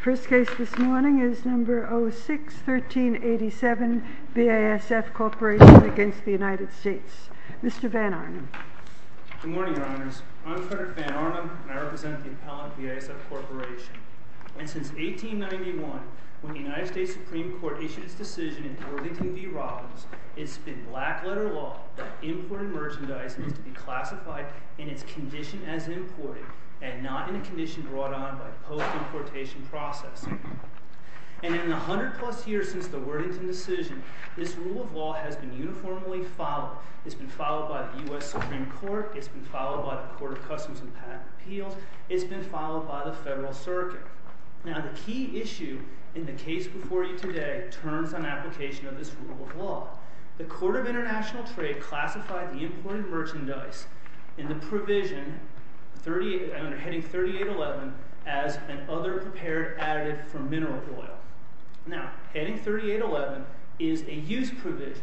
First case this morning is No. 06-1387 BASF Corporation v. United States. Mr. Van Arnum. Good morning, Your Honors. I'm Frederick Van Arnum, and I represent the appellant BASF Corporation. And since 1891, when the United States Supreme Court issued its decision in Worthington v. Robbins, it's been black-letter law that imported merchandise is to be classified in its condition as imported and not in a condition brought on by post-importation processing. And in the 100-plus years since the Worthington decision, this rule of law has been uniformly followed. It's been followed by the U.S. Supreme Court. It's been followed by the Court of Customs and Patent Appeals. It's been followed by the Federal Circuit. Now, the key issue in the case before you today turns on application of this rule of law. The Court of International Trade classified the imported merchandise in the provision under Heading 3811 as an other prepared additive for mineral oil. Now, Heading 3811 is a use provision,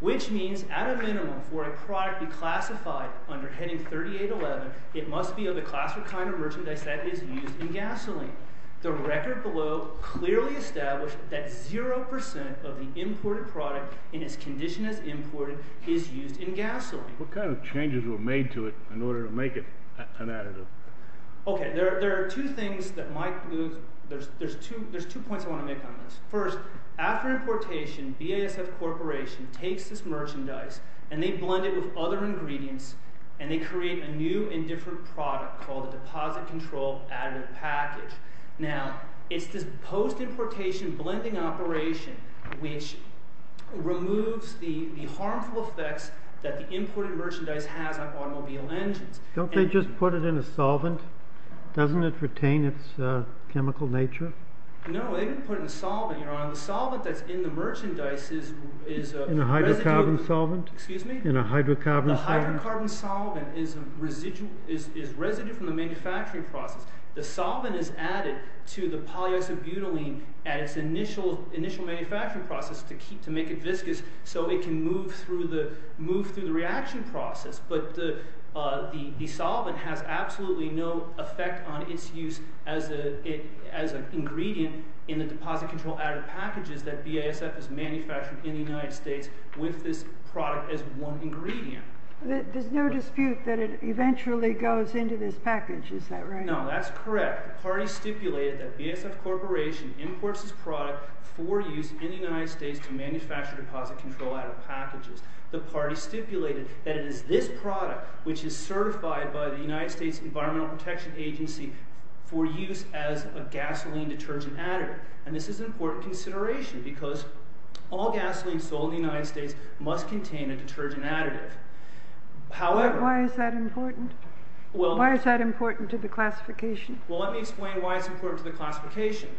which means at a minimum for a product to be classified under Heading 3811, it must be of the class or kind of merchandise that is used in gasoline. The record below clearly established that 0% of the imported product in its condition as imported is used in gasoline. What kind of changes were made to it in order to make it an additive? Okay, there are two things that might – there's two points I want to make on this. First, after importation, BASF Corporation takes this merchandise and they blend it with other ingredients and they create a new and different product called a deposit control additive package. Now, it's this post-importation blending operation which removes the harmful effects that the imported merchandise has on automobile engines. Don't they just put it in a solvent? Doesn't it retain its chemical nature? No, they didn't put it in a solvent, Your Honor. The solvent that's in the merchandise is a residue. In a hydrocarbon solvent? Excuse me? In a hydrocarbon solvent. The hydrocarbon solvent is residue from the manufacturing process. The solvent is added to the polyisobutylene at its initial manufacturing process to make it viscous so it can move through the reaction process. But the solvent has absolutely no effect on its use as an ingredient in the deposit control additive packages that BASF has manufactured in the United States with this product as one ingredient. There's no dispute that it eventually goes into this package. Is that right? No, that's correct. The party stipulated that BASF Corporation imports this product for use in the United States to manufacture deposit control additive packages. The party stipulated that it is this product which is certified by the United States Environmental Protection Agency for use as a gasoline detergent additive. And this is an important consideration because all gasoline sold in the United States must contain a detergent additive. Why is that important? Why is that important to the classification? Well, let me explain why it's important to the classification.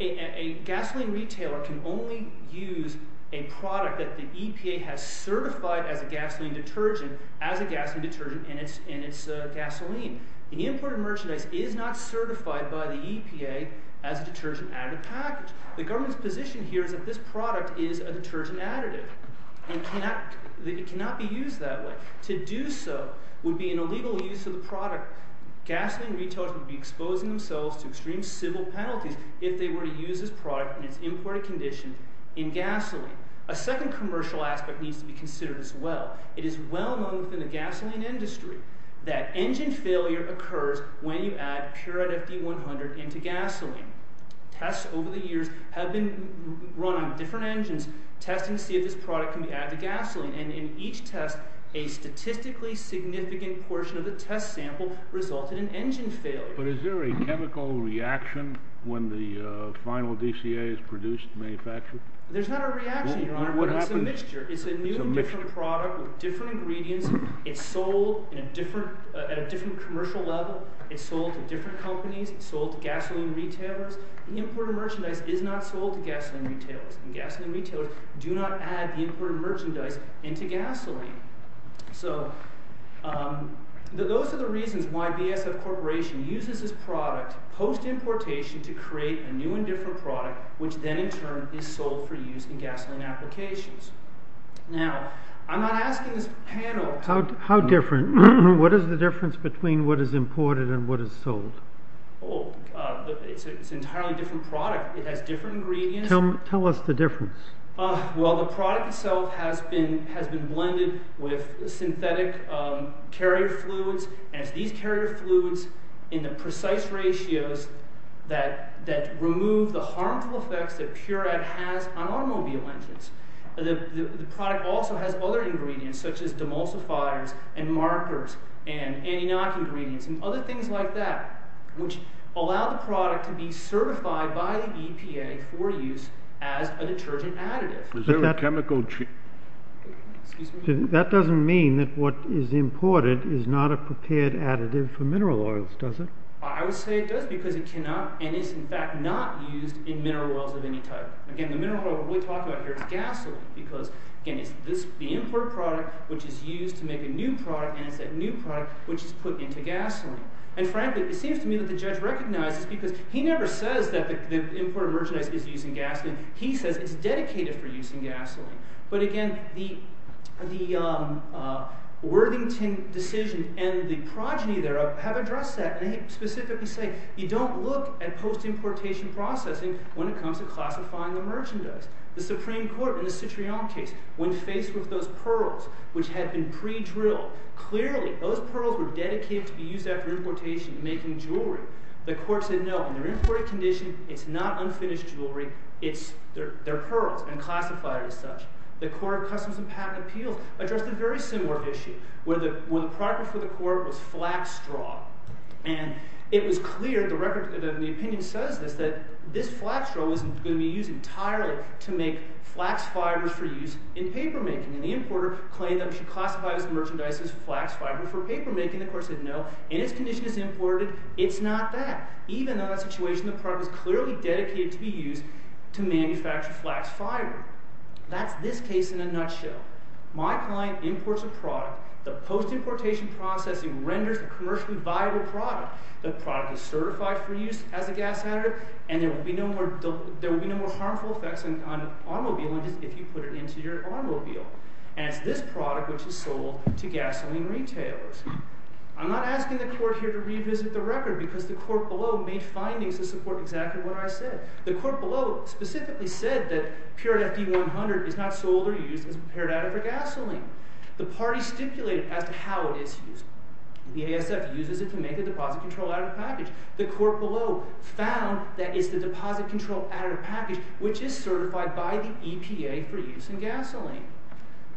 A gasoline retailer can only use a product that the EPA has certified as a gasoline detergent and it's gasoline. The imported merchandise is not certified by the EPA as a detergent additive package. The government's position here is that this product is a detergent additive. It cannot be used that way. To do so would be an illegal use of the product. Gasoline retailers would be exposing themselves to extreme civil penalties if they were to use this product in its imported condition in gasoline. A second commercial aspect needs to be considered as well. It is well known within the gasoline industry that engine failure occurs when you add pure FD100 into gasoline. Tests over the years have been run on different engines, testing to see if this product can be added to gasoline. And in each test, a statistically significant portion of the test sample resulted in engine failure. But is there a chemical reaction when the final DCA is produced and manufactured? There's not a reaction, Your Honor, but it's a mixture. It's a new and different product with different ingredients. It's sold at a different commercial level. It's sold to different companies. It's sold to gasoline retailers. The imported merchandise is not sold to gasoline retailers. And gasoline retailers do not add the imported merchandise into gasoline. So those are the reasons why VSF Corporation uses this product post-importation to create a new and different product which then in turn is sold for use in gasoline applications. Now, I'm not asking this panel— How different? What is the difference between what is imported and what is sold? Oh, it's an entirely different product. It has different ingredients. Tell us the difference. Well, the product itself has been blended with synthetic carrier fluids. And it's these carrier fluids in the precise ratios that remove the harmful effects that Puret has on automobile engines. The product also has other ingredients such as demulsifiers and markers and anti-knock ingredients and other things like that which allow the product to be certified by the EPA for use as a detergent additive. Is there a chemical change? That doesn't mean that what is imported is not a prepared additive for mineral oils, does it? I would say it does because it cannot and is in fact not used in mineral oils of any type. Again, the mineral oil that we talk about here is gasoline because, again, it's the imported product which is used to make a new product and it's that new product which is put into gasoline. And frankly, it seems to me that the judge recognizes because he never says that the imported merchandise is used in gasoline. He says it's dedicated for use in gasoline. But again, the Worthington decision and the progeny thereof have addressed that. And they specifically say you don't look at post-importation processing when it comes to classifying the merchandise. The Supreme Court in the Citrion case, when faced with those pearls which had been pre-drilled, clearly those pearls were dedicated to be used after importation in making jewelry. The court said no. In their imported condition, it's not unfinished jewelry. They're pearls and classified as such. The Court of Customs and Patent Appeals addressed a very similar issue where the product for the court was flax straw. And it was clear – the opinion says this – that this flax straw wasn't going to be used entirely to make flax fibers for use in papermaking. And the importer claimed that it should classify this merchandise as flax fiber for papermaking. The court said no. In its condition, it's imported. It's not that. Even in that situation, the product is clearly dedicated to be used to manufacture flax fiber. That's this case in a nutshell. My client imports a product. The post-importation processing renders the commercially viable product. The product is certified for use as a gas additive. And there will be no more harmful effects on automobile engines if you put it into your automobile. And it's this product which is sold to gasoline retailers. I'm not asking the court here to revisit the record because the court below made findings to support exactly what I said. The court below specifically said that Purit FD 100 is not sold or used as a purit additive for gasoline. The party stipulated as to how it is used. The ASF uses it to make a deposit control additive package. The court below found that it's the deposit control additive package which is certified by the EPA for use in gasoline.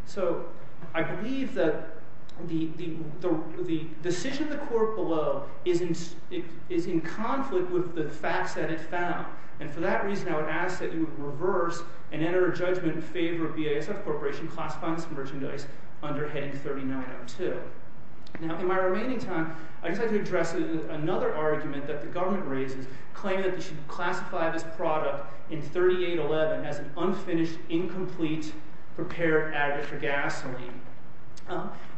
So I believe that the decision of the court below is in conflict with the facts that it found. And for that reason, I would ask that you would reverse and enter a judgment in favor of the ASF Corporation classifying this merchandise under heading 3902. Now, in my remaining time, I'd just like to address another argument that the government raises, claiming that they should classify this product in 3811 as an unfinished, incomplete, prepared additive for gasoline.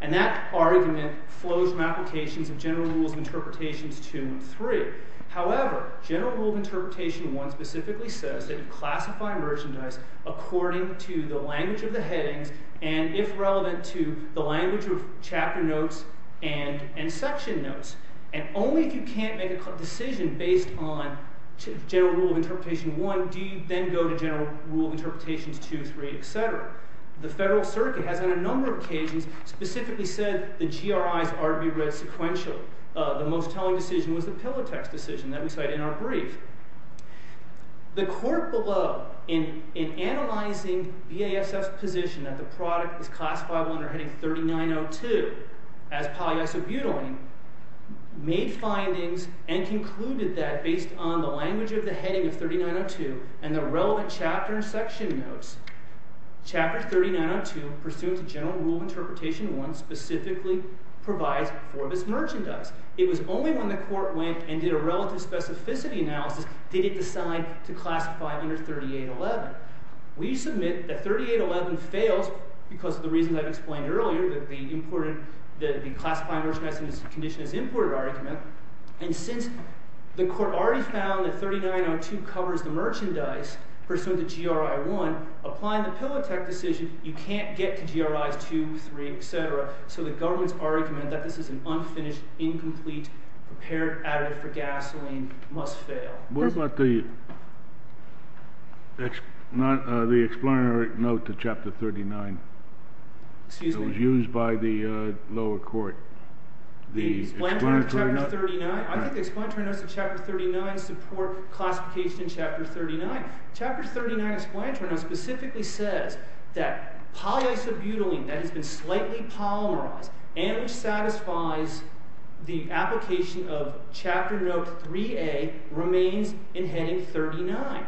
And that argument flows from applications of General Rules of Interpretation 2 and 3. However, General Rule of Interpretation 1 specifically says that you classify merchandise according to the language of the headings and if relevant to the language of chapter notes and section notes. And only if you can't make a decision based on General Rule of Interpretation 1 do you then go to General Rule of Interpretation 2, 3, etc. The Federal Circuit has on a number of occasions specifically said the GRIs are to be read sequentially. The most telling decision was the Pillow Text decision that we cite in our brief. The court below, in analyzing BASF's position that the product is classifiable under heading 3902 as polyisobutylene, made findings and concluded that based on the language of the heading of 3902 and the relevant chapter and section notes, chapter 3902 pursuant to General Rule of Interpretation 1 specifically provides for this merchandise. It was only when the court went and did a relative specificity analysis did it decide to classify under 3811. We submit that 3811 fails because of the reasons I've explained earlier, that the classifying merchandise in this condition is imported argument. And since the court already found that 3902 covers the merchandise pursuant to GRI 1, applying the Pillow Text decision, you can't get to GRIs 2, 3, etc., so the government's argument that this is an unfinished, incomplete, prepared additive for gasoline must fail. Where about the explanatory note to Chapter 39 that was used by the lower court? The explanatory note to Chapter 39? I think the explanatory note to Chapter 39 support classification in Chapter 39. Chapter 39 explanatory note specifically says that polyisobutylene that has been slightly polymerized and which satisfies the application of Chapter Note 3A remains in heading 39.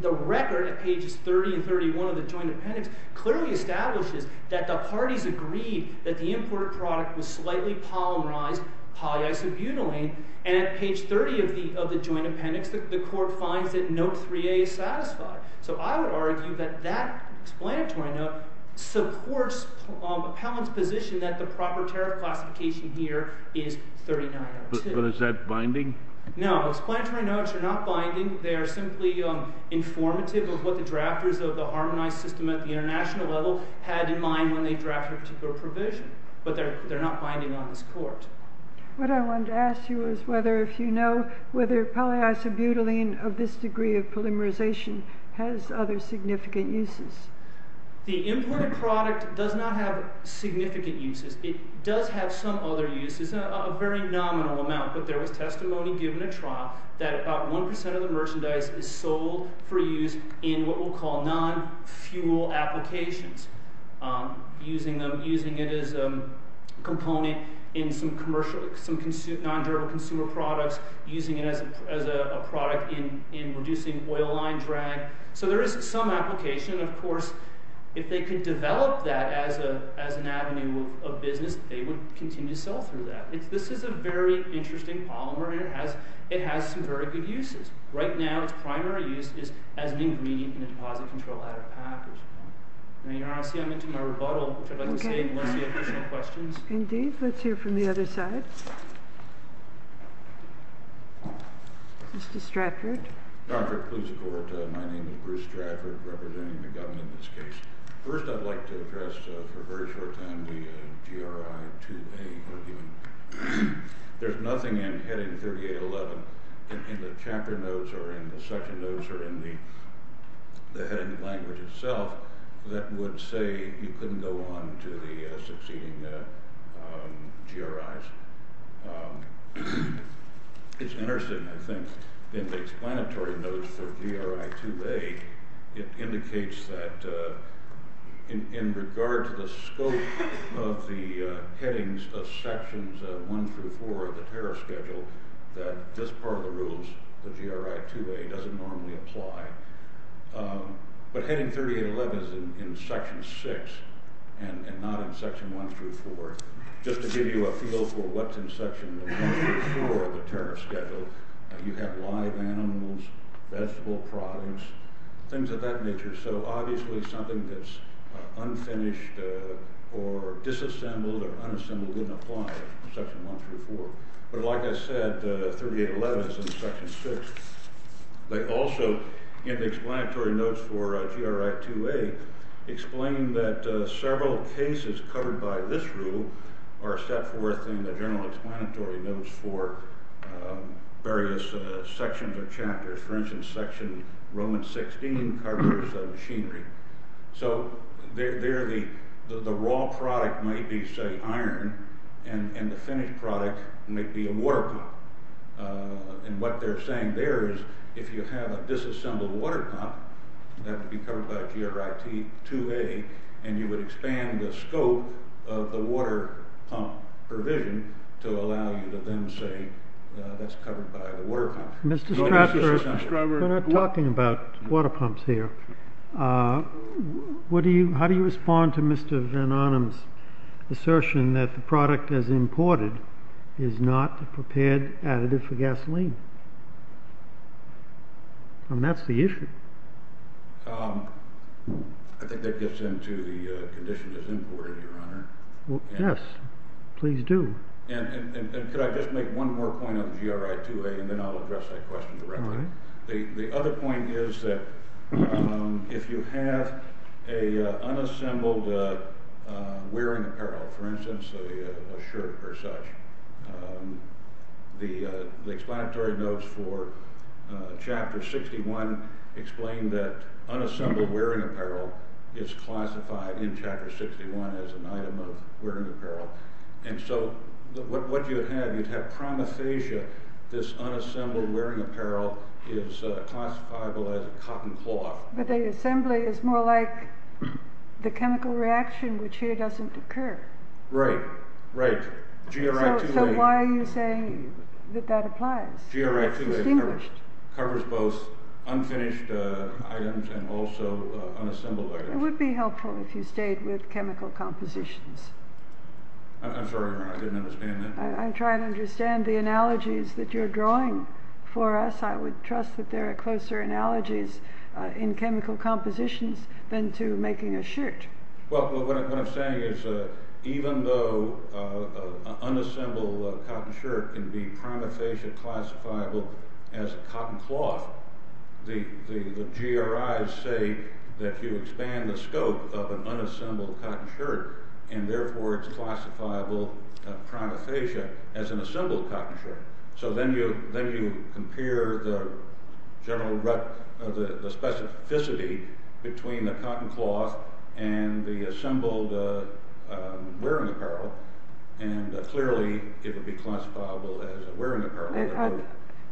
The record at pages 30 and 31 of the Joint Appendix clearly establishes that the parties agreed that the imported product was slightly polymerized polyisobutylene, and at page 30 of the Joint Appendix, the court finds that Note 3A is satisfied. So I would argue that that explanatory note supports Powell's position that the proper tariff classification here is 3902. But is that binding? No, explanatory notes are not binding. They are simply informative of what the drafters of the Harmonized System at the international level had in mind when they drafted a particular provision. But they're not binding on this court. What I wanted to ask you is whether if you know whether polyisobutylene of this degree of polymerization has other significant uses. The imported product does not have significant uses. It does have some other uses, a very nominal amount, but there was testimony given at trial that about 1% of the merchandise is sold for use in what we'll call non-fuel applications, using it as a component in some non-derived consumer products, using it as a product in reducing oil line drag. So there is some application, of course. If they could develop that as an avenue of business, they would continue to sell through that. This is a very interesting polymer, and it has some very good uses. Right now, its primary use is as an ingredient in a deposit control ladder package. Honestly, I'm into my rebuttal, which I'd like to stay unless you have additional questions. Indeed. Let's hear from the other side. Mr. Stratford. Dr. Kluze-Kort, my name is Bruce Stratford, representing the government in this case. First, I'd like to address for a very short time the GRI 2A argument. There's nothing in heading 3811 in the chapter notes or in the section notes or in the heading language itself that would say you couldn't go on to the succeeding GRIs. It's interesting, I think, in the explanatory notes for GRI 2A, it indicates that in regard to the scope of the headings of sections 1 through 4 of the tariff schedule, that this part of the rules, the GRI 2A, doesn't normally apply. But heading 3811 is in section 6 and not in section 1 through 4. Just to give you a feel for what's in section 1 through 4 of the tariff schedule, you have live animals, vegetable products, things of that nature. So obviously something that's unfinished or disassembled or unassembled wouldn't apply in section 1 through 4. But like I said, 3811 is in section 6. They also, in the explanatory notes for GRI 2A, explain that several cases covered by this rule are set forth in the general explanatory notes for various sections or chapters. For instance, section Roman 16 covers machinery. So the raw product might be, say, iron, and the finished product might be a water pump. And what they're saying there is if you have a disassembled water pump, that would be covered by GRI 2A, and you would expand the scope of the water pump provision to allow you to then say that's covered by the water pump. Mr. Stratford, we're not talking about water pumps here. How do you respond to Mr. Van Arnam's assertion that the product as imported is not a prepared additive for gasoline? I mean, that's the issue. I think that gets into the conditions as imported, Your Honor. Yes, please do. And could I just make one more point on GRI 2A, and then I'll address that question directly. The other point is that if you have an unassembled wearing apparel, for instance, a shirt or such, the explanatory notes for Chapter 61 explain that unassembled wearing apparel is classified in Chapter 61 as an item of wearing apparel. And so what you'd have, you'd have promethasia. This unassembled wearing apparel is classifiable as a cotton cloth. But the assembly is more like the chemical reaction, which here doesn't occur. Right, right. GRI 2A. So why are you saying that that applies? GRI 2A covers both unfinished items and also unassembled items. It would be helpful if you stayed with chemical compositions. I'm sorry, Your Honor, I didn't understand that. I'm trying to understand the analogies that you're drawing for us. I would trust that there are closer analogies in chemical compositions than to making a shirt. Well, what I'm saying is even though an unassembled cotton shirt can be promethasia classifiable as a cotton cloth, the GRIs say that you expand the scope of an unassembled cotton shirt, and therefore it's classifiable, promethasia, as an assembled cotton shirt. So then you compare the general specificity between the cotton cloth and the assembled wearing apparel, and clearly it would be classifiable as a wearing apparel.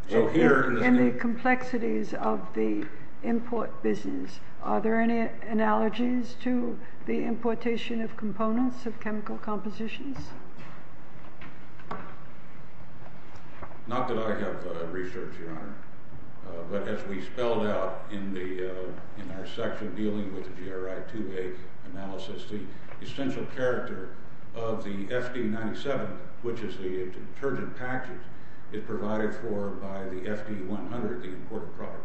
So here in the complexities of the import business, are there any analogies to the importation of components of chemical compositions? Not that I have research, Your Honor, but as we spelled out in our section dealing with the GRI 2A analysis, the essential character of the FD-97, which is the detergent package, is provided for by the FD-100, the import product.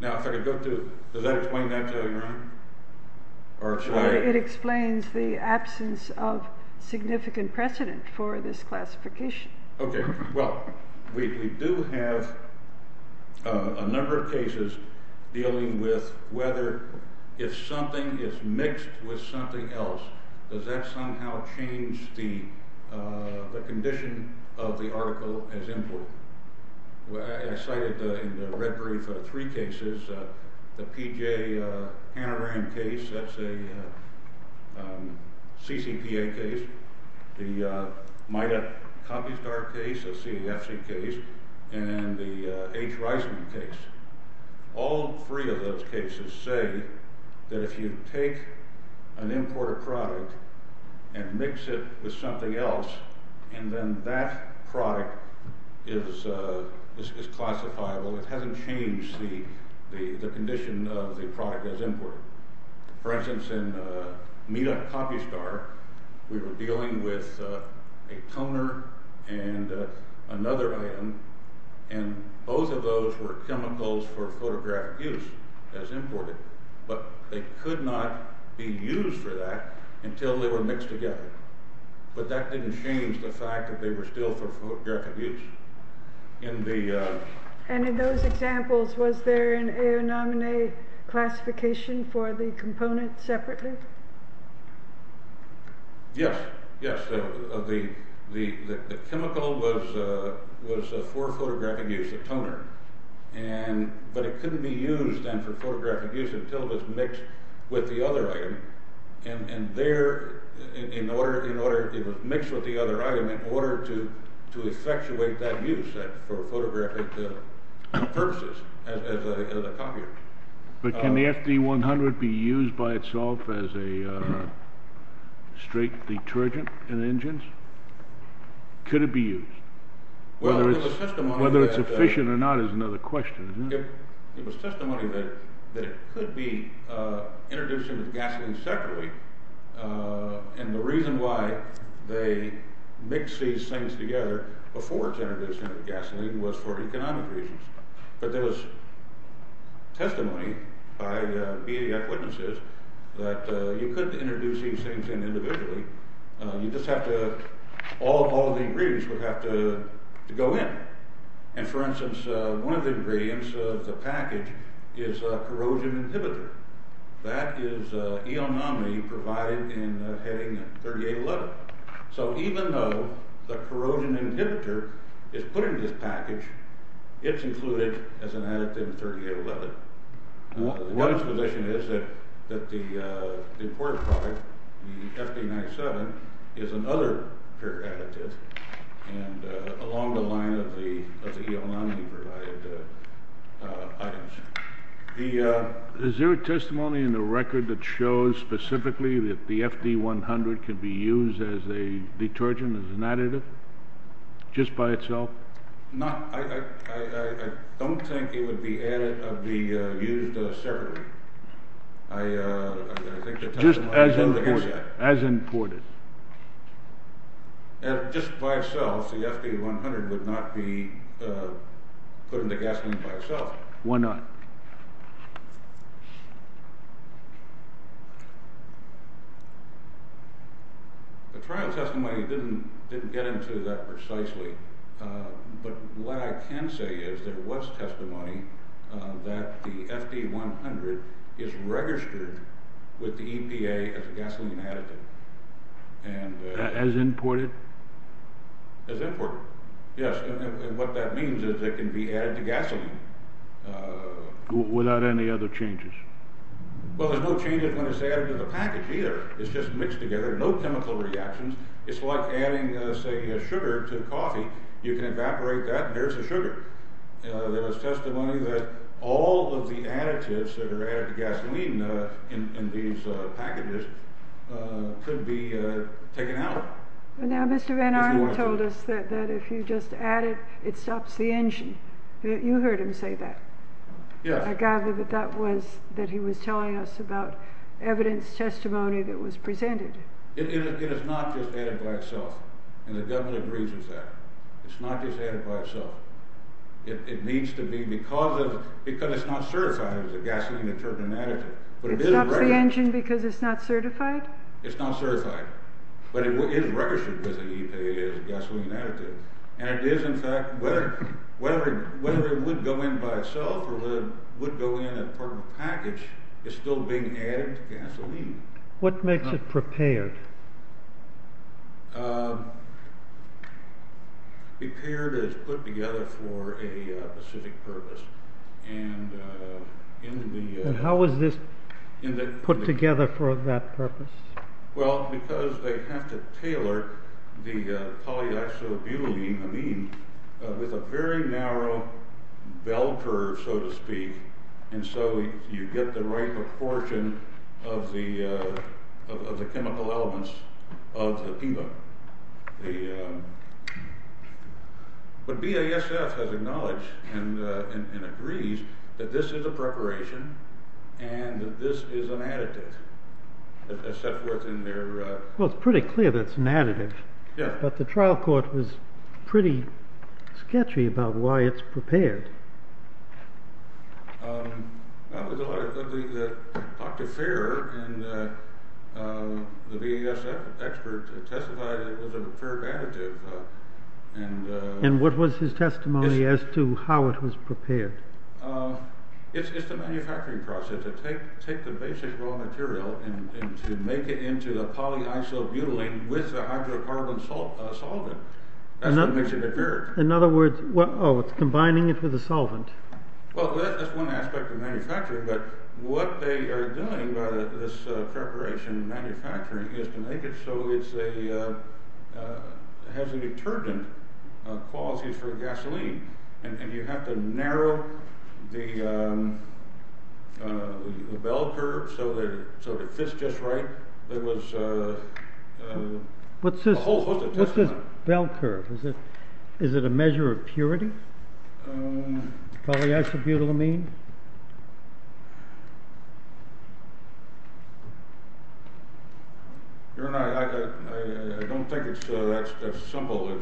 Now, if I could go through, does that explain that, Your Honor? It explains the absence of significant precedent for this classification. Okay. Well, we do have a number of cases dealing with whether if something is mixed with something else, does that somehow change the condition of the article as import? Well, I cited in the red brief three cases, the P.J. Hanna-Rand case, that's a CCPA case, the MIDAC copy star case, a CEFC case, and the H. Reisman case. All three of those cases say that if you take an imported product and mix it with something else, and then that product is classifiable, it hasn't changed the condition of the product as imported. For instance, in MIDAC copy star, we were dealing with a toner and another item, and both of those were chemicals for photographic use as imported, but they could not be used for that until they were mixed together. But that didn't change the fact that they were still for photographic use. And in those examples, was there an Aonamine classification for the component separately? Yes, yes. The chemical was for photographic use, a toner, but it couldn't be used then for photographic use until it was mixed with the other item. And there, it was mixed with the other item in order to effectuate that use for photographic purposes as a copy. But can the FD100 be used by itself as a straight detergent in engines? Could it be used? Whether it's efficient or not is another question, isn't it? It was testimony that it could be introduced into the gasoline separately, and the reason why they mixed these things together before it's introduced into the gasoline was for economic reasons. But there was testimony by BDF witnesses that you couldn't introduce these things in individually, you'd just have to, all of the ingredients would have to go in. And for instance, one of the ingredients of the package is a corrosion inhibitor. That is Aonamine provided in heading 3811. So even though the corrosion inhibitor is put into this package, it's included as an additive in 3811. One exposition is that the important product, the FD97, is another pure additive along the line of the Aonamine-provided items. Is there a testimony in the record that shows specifically that the FD100 could be used as a detergent, as an additive, just by itself? I don't think it would be added of the used separately. Just as imported. Just by itself, the FD100 would not be put into gasoline by itself. Why not? The trial testimony didn't get into that precisely, but what I can say is there was testimony that the FD100 is registered with the EPA as a gasoline additive. As imported? As imported, yes. And what that means is it can be added to gasoline. Without any other changes? Well, there's no changes when it's added to the package, either. It's just mixed together, no chemical reactions. It's like adding, say, sugar to coffee. You can evaporate that, and there's the sugar. There was testimony that all of the additives that are added to gasoline in these packages could be taken out. Now, Mr. Van Arn told us that if you just add it, it stops the engine. You heard him say that. Yes. I gather that he was telling us about evidence testimony that was presented. It is not just added by itself, and the government agrees with that. It's not just added by itself. It needs to be because it's not certified as a gasoline detergent additive. It stops the engine because it's not certified? It's not certified, but it is registered with the EPA as a gasoline additive. And it is, in fact, whether it would go in by itself or would go in as part of a package, it's still being added to gasoline. What makes it prepared? Prepared is put together for a specific purpose. And how is this put together for that purpose? Well, because they have to tailor the polyoxobutylene amine with a very narrow bell curve, so to speak, and so you get the right proportion of the chemical elements of the PEMA. But BASF has acknowledged and agrees that this is a preparation and that this is an additive. Well, it's pretty clear that it's an additive, but the trial court was pretty sketchy about why it's prepared. Dr. Fair and the BASF expert testified that it was a fair additive. And what was his testimony as to how it was prepared? It's the manufacturing process. To take the basic raw material and to make it into the polyisobutylene with the hydrocarbon solvent. That's what makes it prepared. In other words, it's combining it with a solvent. Well, that's one aspect of manufacturing, but what they are doing with this preparation and manufacturing is to make it so it has a detergent quality for gasoline. And you have to narrow the bell curve so it fits just right. There was a whole host of testimony. What's this bell curve? Is it a measure of purity? Polyisobutylene? I don't think it's that simple. I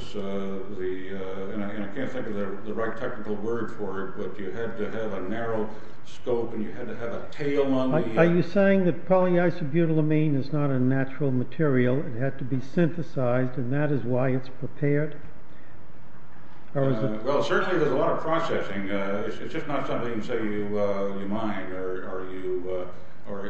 can't think of the right technical word for it, but you have to have a narrow scope and you have to have a tail on the... Are you saying that polyisobutylene is not a natural material? It had to be synthesized and that is why it's prepared? Well, certainly there's a lot of processing. It's just not something, say, you mine or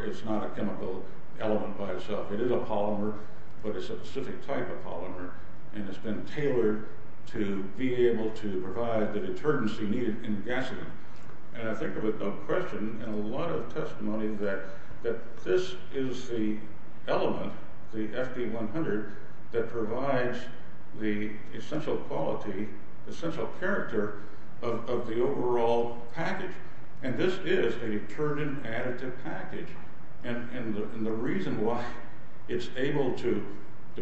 it's not a chemical element by itself. It is a polymer, but it's a specific type of polymer. And it's been tailored to be able to provide the detergents you need in gasoline. And I think of a question and a lot of testimony that this is the element, the FD100, that provides the essential quality, essential character of the overall package. And this is a detergent additive package. And the reason why it's able to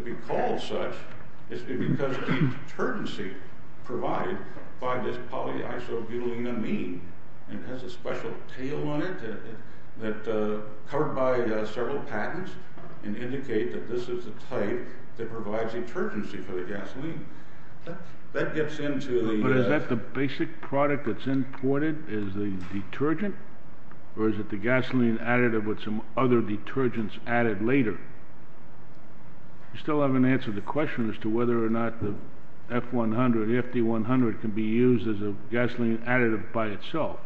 be called such is because the detergency provided by this polyisobutylene amine and has a special tail on it that's covered by several patents and indicate that this is the type that provides detergency for the gasoline. That gets into the... Or is it the gasoline additive with some other detergents added later? You still haven't answered the question as to whether or not the F100, the FD100, can be used as a gasoline additive by itself.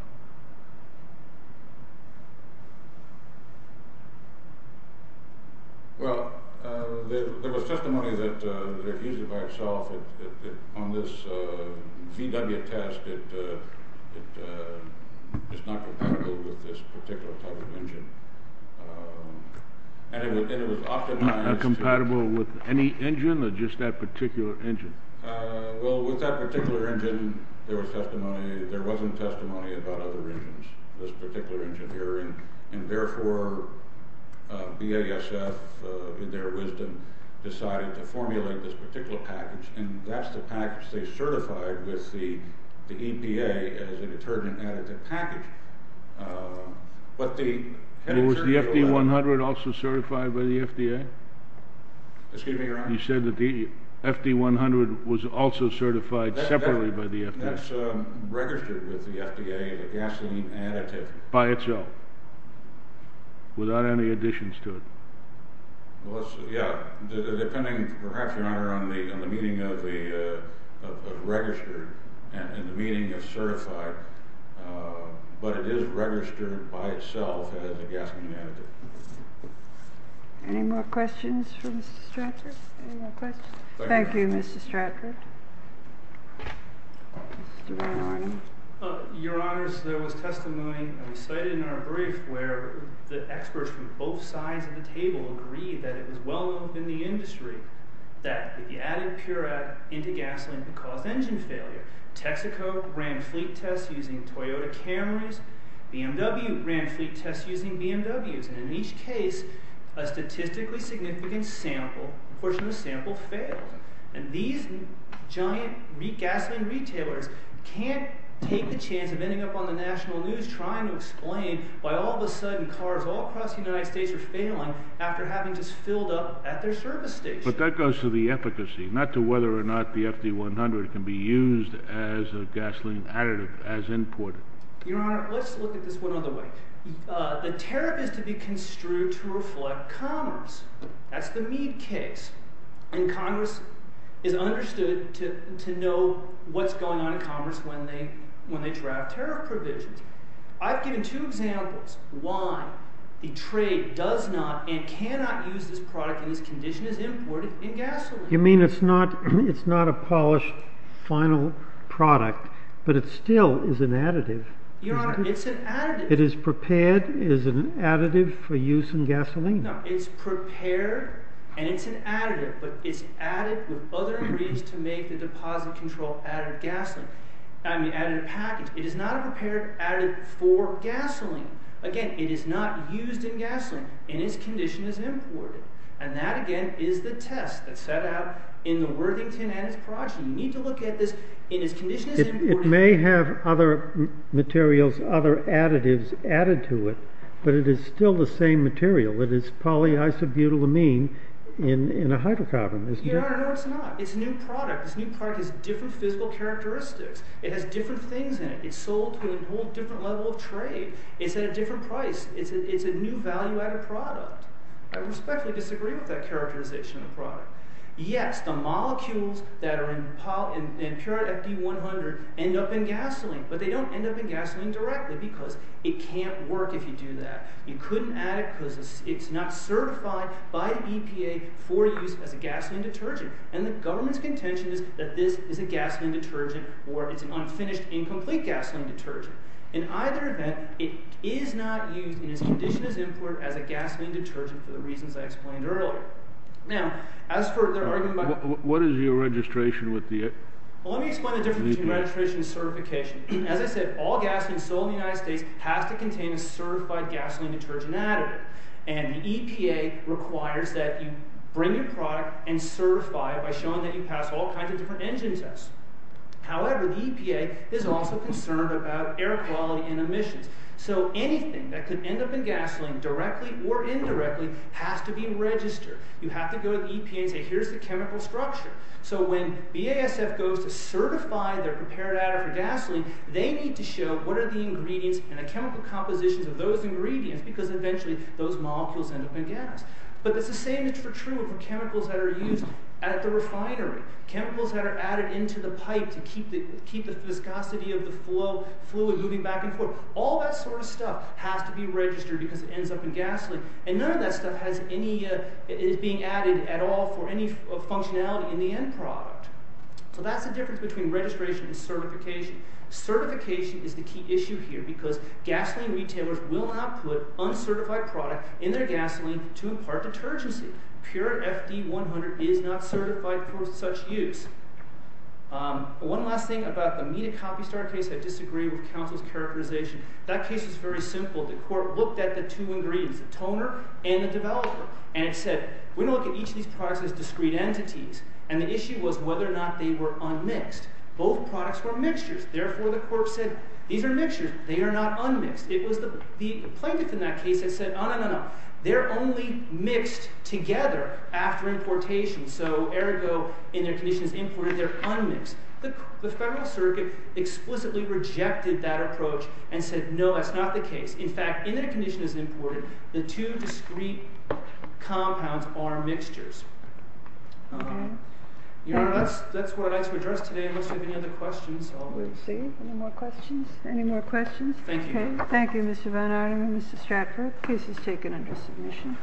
Well, there was testimony that it can be used by itself. On this VW test, it's not compatible with this particular type of engine. And it was optimized... Not compatible with any engine or just that particular engine? Well, with that particular engine, there was testimony. There wasn't testimony about other engines, this particular engine here. And therefore, BASF, in their wisdom, decided to formulate this particular package. And that's the package they certified with the EPA as a detergent additive package. But the... Was the FD100 also certified by the FDA? Excuse me, Your Honor? You said that the FD100 was also certified separately by the FDA? That's registered with the FDA as a gasoline additive. By itself? Without any additions to it? Well, yeah. Depending perhaps, Your Honor, on the meaning of the register and the meaning of certified. But it is registered by itself as a gasoline additive. Any more questions for Mr. Stratford? Any more questions? Thank you, Mr. Stratford. Your Honor, there was testimony we cited in our brief, where the experts from both sides of the table agreed that it was well known in the industry that the added purite into gasoline could cause engine failure. Texaco ran fleet tests using Toyota Camrys. BMW ran fleet tests using BMWs. And in each case, a statistically significant portion of the sample failed. And these giant gasoline retailers can't take the chance of ending up on the national news trying to explain why all of a sudden cars all across the United States are failing after having just filled up at their service station. But that goes to the efficacy, not to whether or not the FD100 can be used as a gasoline additive, as imported. Your Honor, let's look at this one other way. The tariff is to be construed to reflect commerce. That's the Meade case. And Congress is understood to know what's going on in commerce when they draft tariff provisions. I've given two examples why the trade does not and cannot use this product in this condition as imported in gasoline. You mean it's not a polished final product, but it still is an additive? Your Honor, it's an additive. It is prepared as an additive for use in gasoline? No, it's prepared and it's an additive, but it's added with other ingredients to make the deposit control additive package. It is not a prepared additive for gasoline. Again, it is not used in gasoline, and it's condition is imported. And that, again, is the test that's set out in the Worthington and its project. You need to look at this. It may have other materials, other additives added to it, but it is still the same material. It is polyisobutylamine in a hydrocarbon, isn't it? Your Honor, no, it's not. It's a new product. This new product has different physical characteristics. It has different things in it. It's sold to a whole different level of trade. It's at a different price. It's a new value-added product. I respectfully disagree with that characterization of the product. Yes, the molecules that are in Purit FD100 end up in gasoline, but they don't end up in gasoline directly because it can't work if you do that. You couldn't add it because it's not certified by the EPA for use as a gasoline detergent. And the government's contention is that this is a gasoline detergent or it's an unfinished, incomplete gasoline detergent. In either event, it is not used in its condition as import as a gasoline detergent for the reasons I explained earlier. Now, as for their argument about— What is your registration with the— Well, let me explain the difference between registration and certification. As I said, all gasoline sold in the United States has to contain a certified gasoline detergent additive. And the EPA requires that you bring your product and certify it by showing that you passed all kinds of different engine tests. However, the EPA is also concerned about air quality and emissions. So anything that could end up in gasoline directly or indirectly has to be registered. You have to go to the EPA and say, here's the chemical structure. So when BASF goes to certify their prepared additive for gasoline, they need to show what are the ingredients and the chemical compositions of those ingredients because eventually those molecules end up in gas. But it's the same is true for chemicals that are used at the refinery, chemicals that are added into the pipe to keep the viscosity of the fluid moving back and forth. All that sort of stuff has to be registered because it ends up in gasoline. And none of that stuff is being added at all for any functionality in the end product. So that's the difference between registration and certification. Certification is the key issue here because gasoline retailers will not put uncertified product in their gasoline to impart detergency. Pure FD-100 is not certified for such use. One last thing about the Mina Coffee Star case. I disagree with counsel's characterization. That case was very simple. The court looked at the two ingredients, the toner and the developer. And it said, we're going to look at each of these products as discrete entities. And the issue was whether or not they were unmixed. Both products were mixtures. Therefore, the court said, these are mixtures. They are not unmixed. It was the plaintiff in that case that said, no, no, no. They're only mixed together after importation. So ergo, in their condition as imported, they're unmixed. The Federal Circuit explicitly rejected that approach and said, no, that's not the case. In fact, in their condition as imported, the two discrete compounds are mixtures. Your Honor, that's what I'd like to address today unless you have any other questions. Let's see. Any more questions? Any more questions? Thank you. Thank you, Mr. Van Arnam and Mr. Stratford. The case is taken under submission.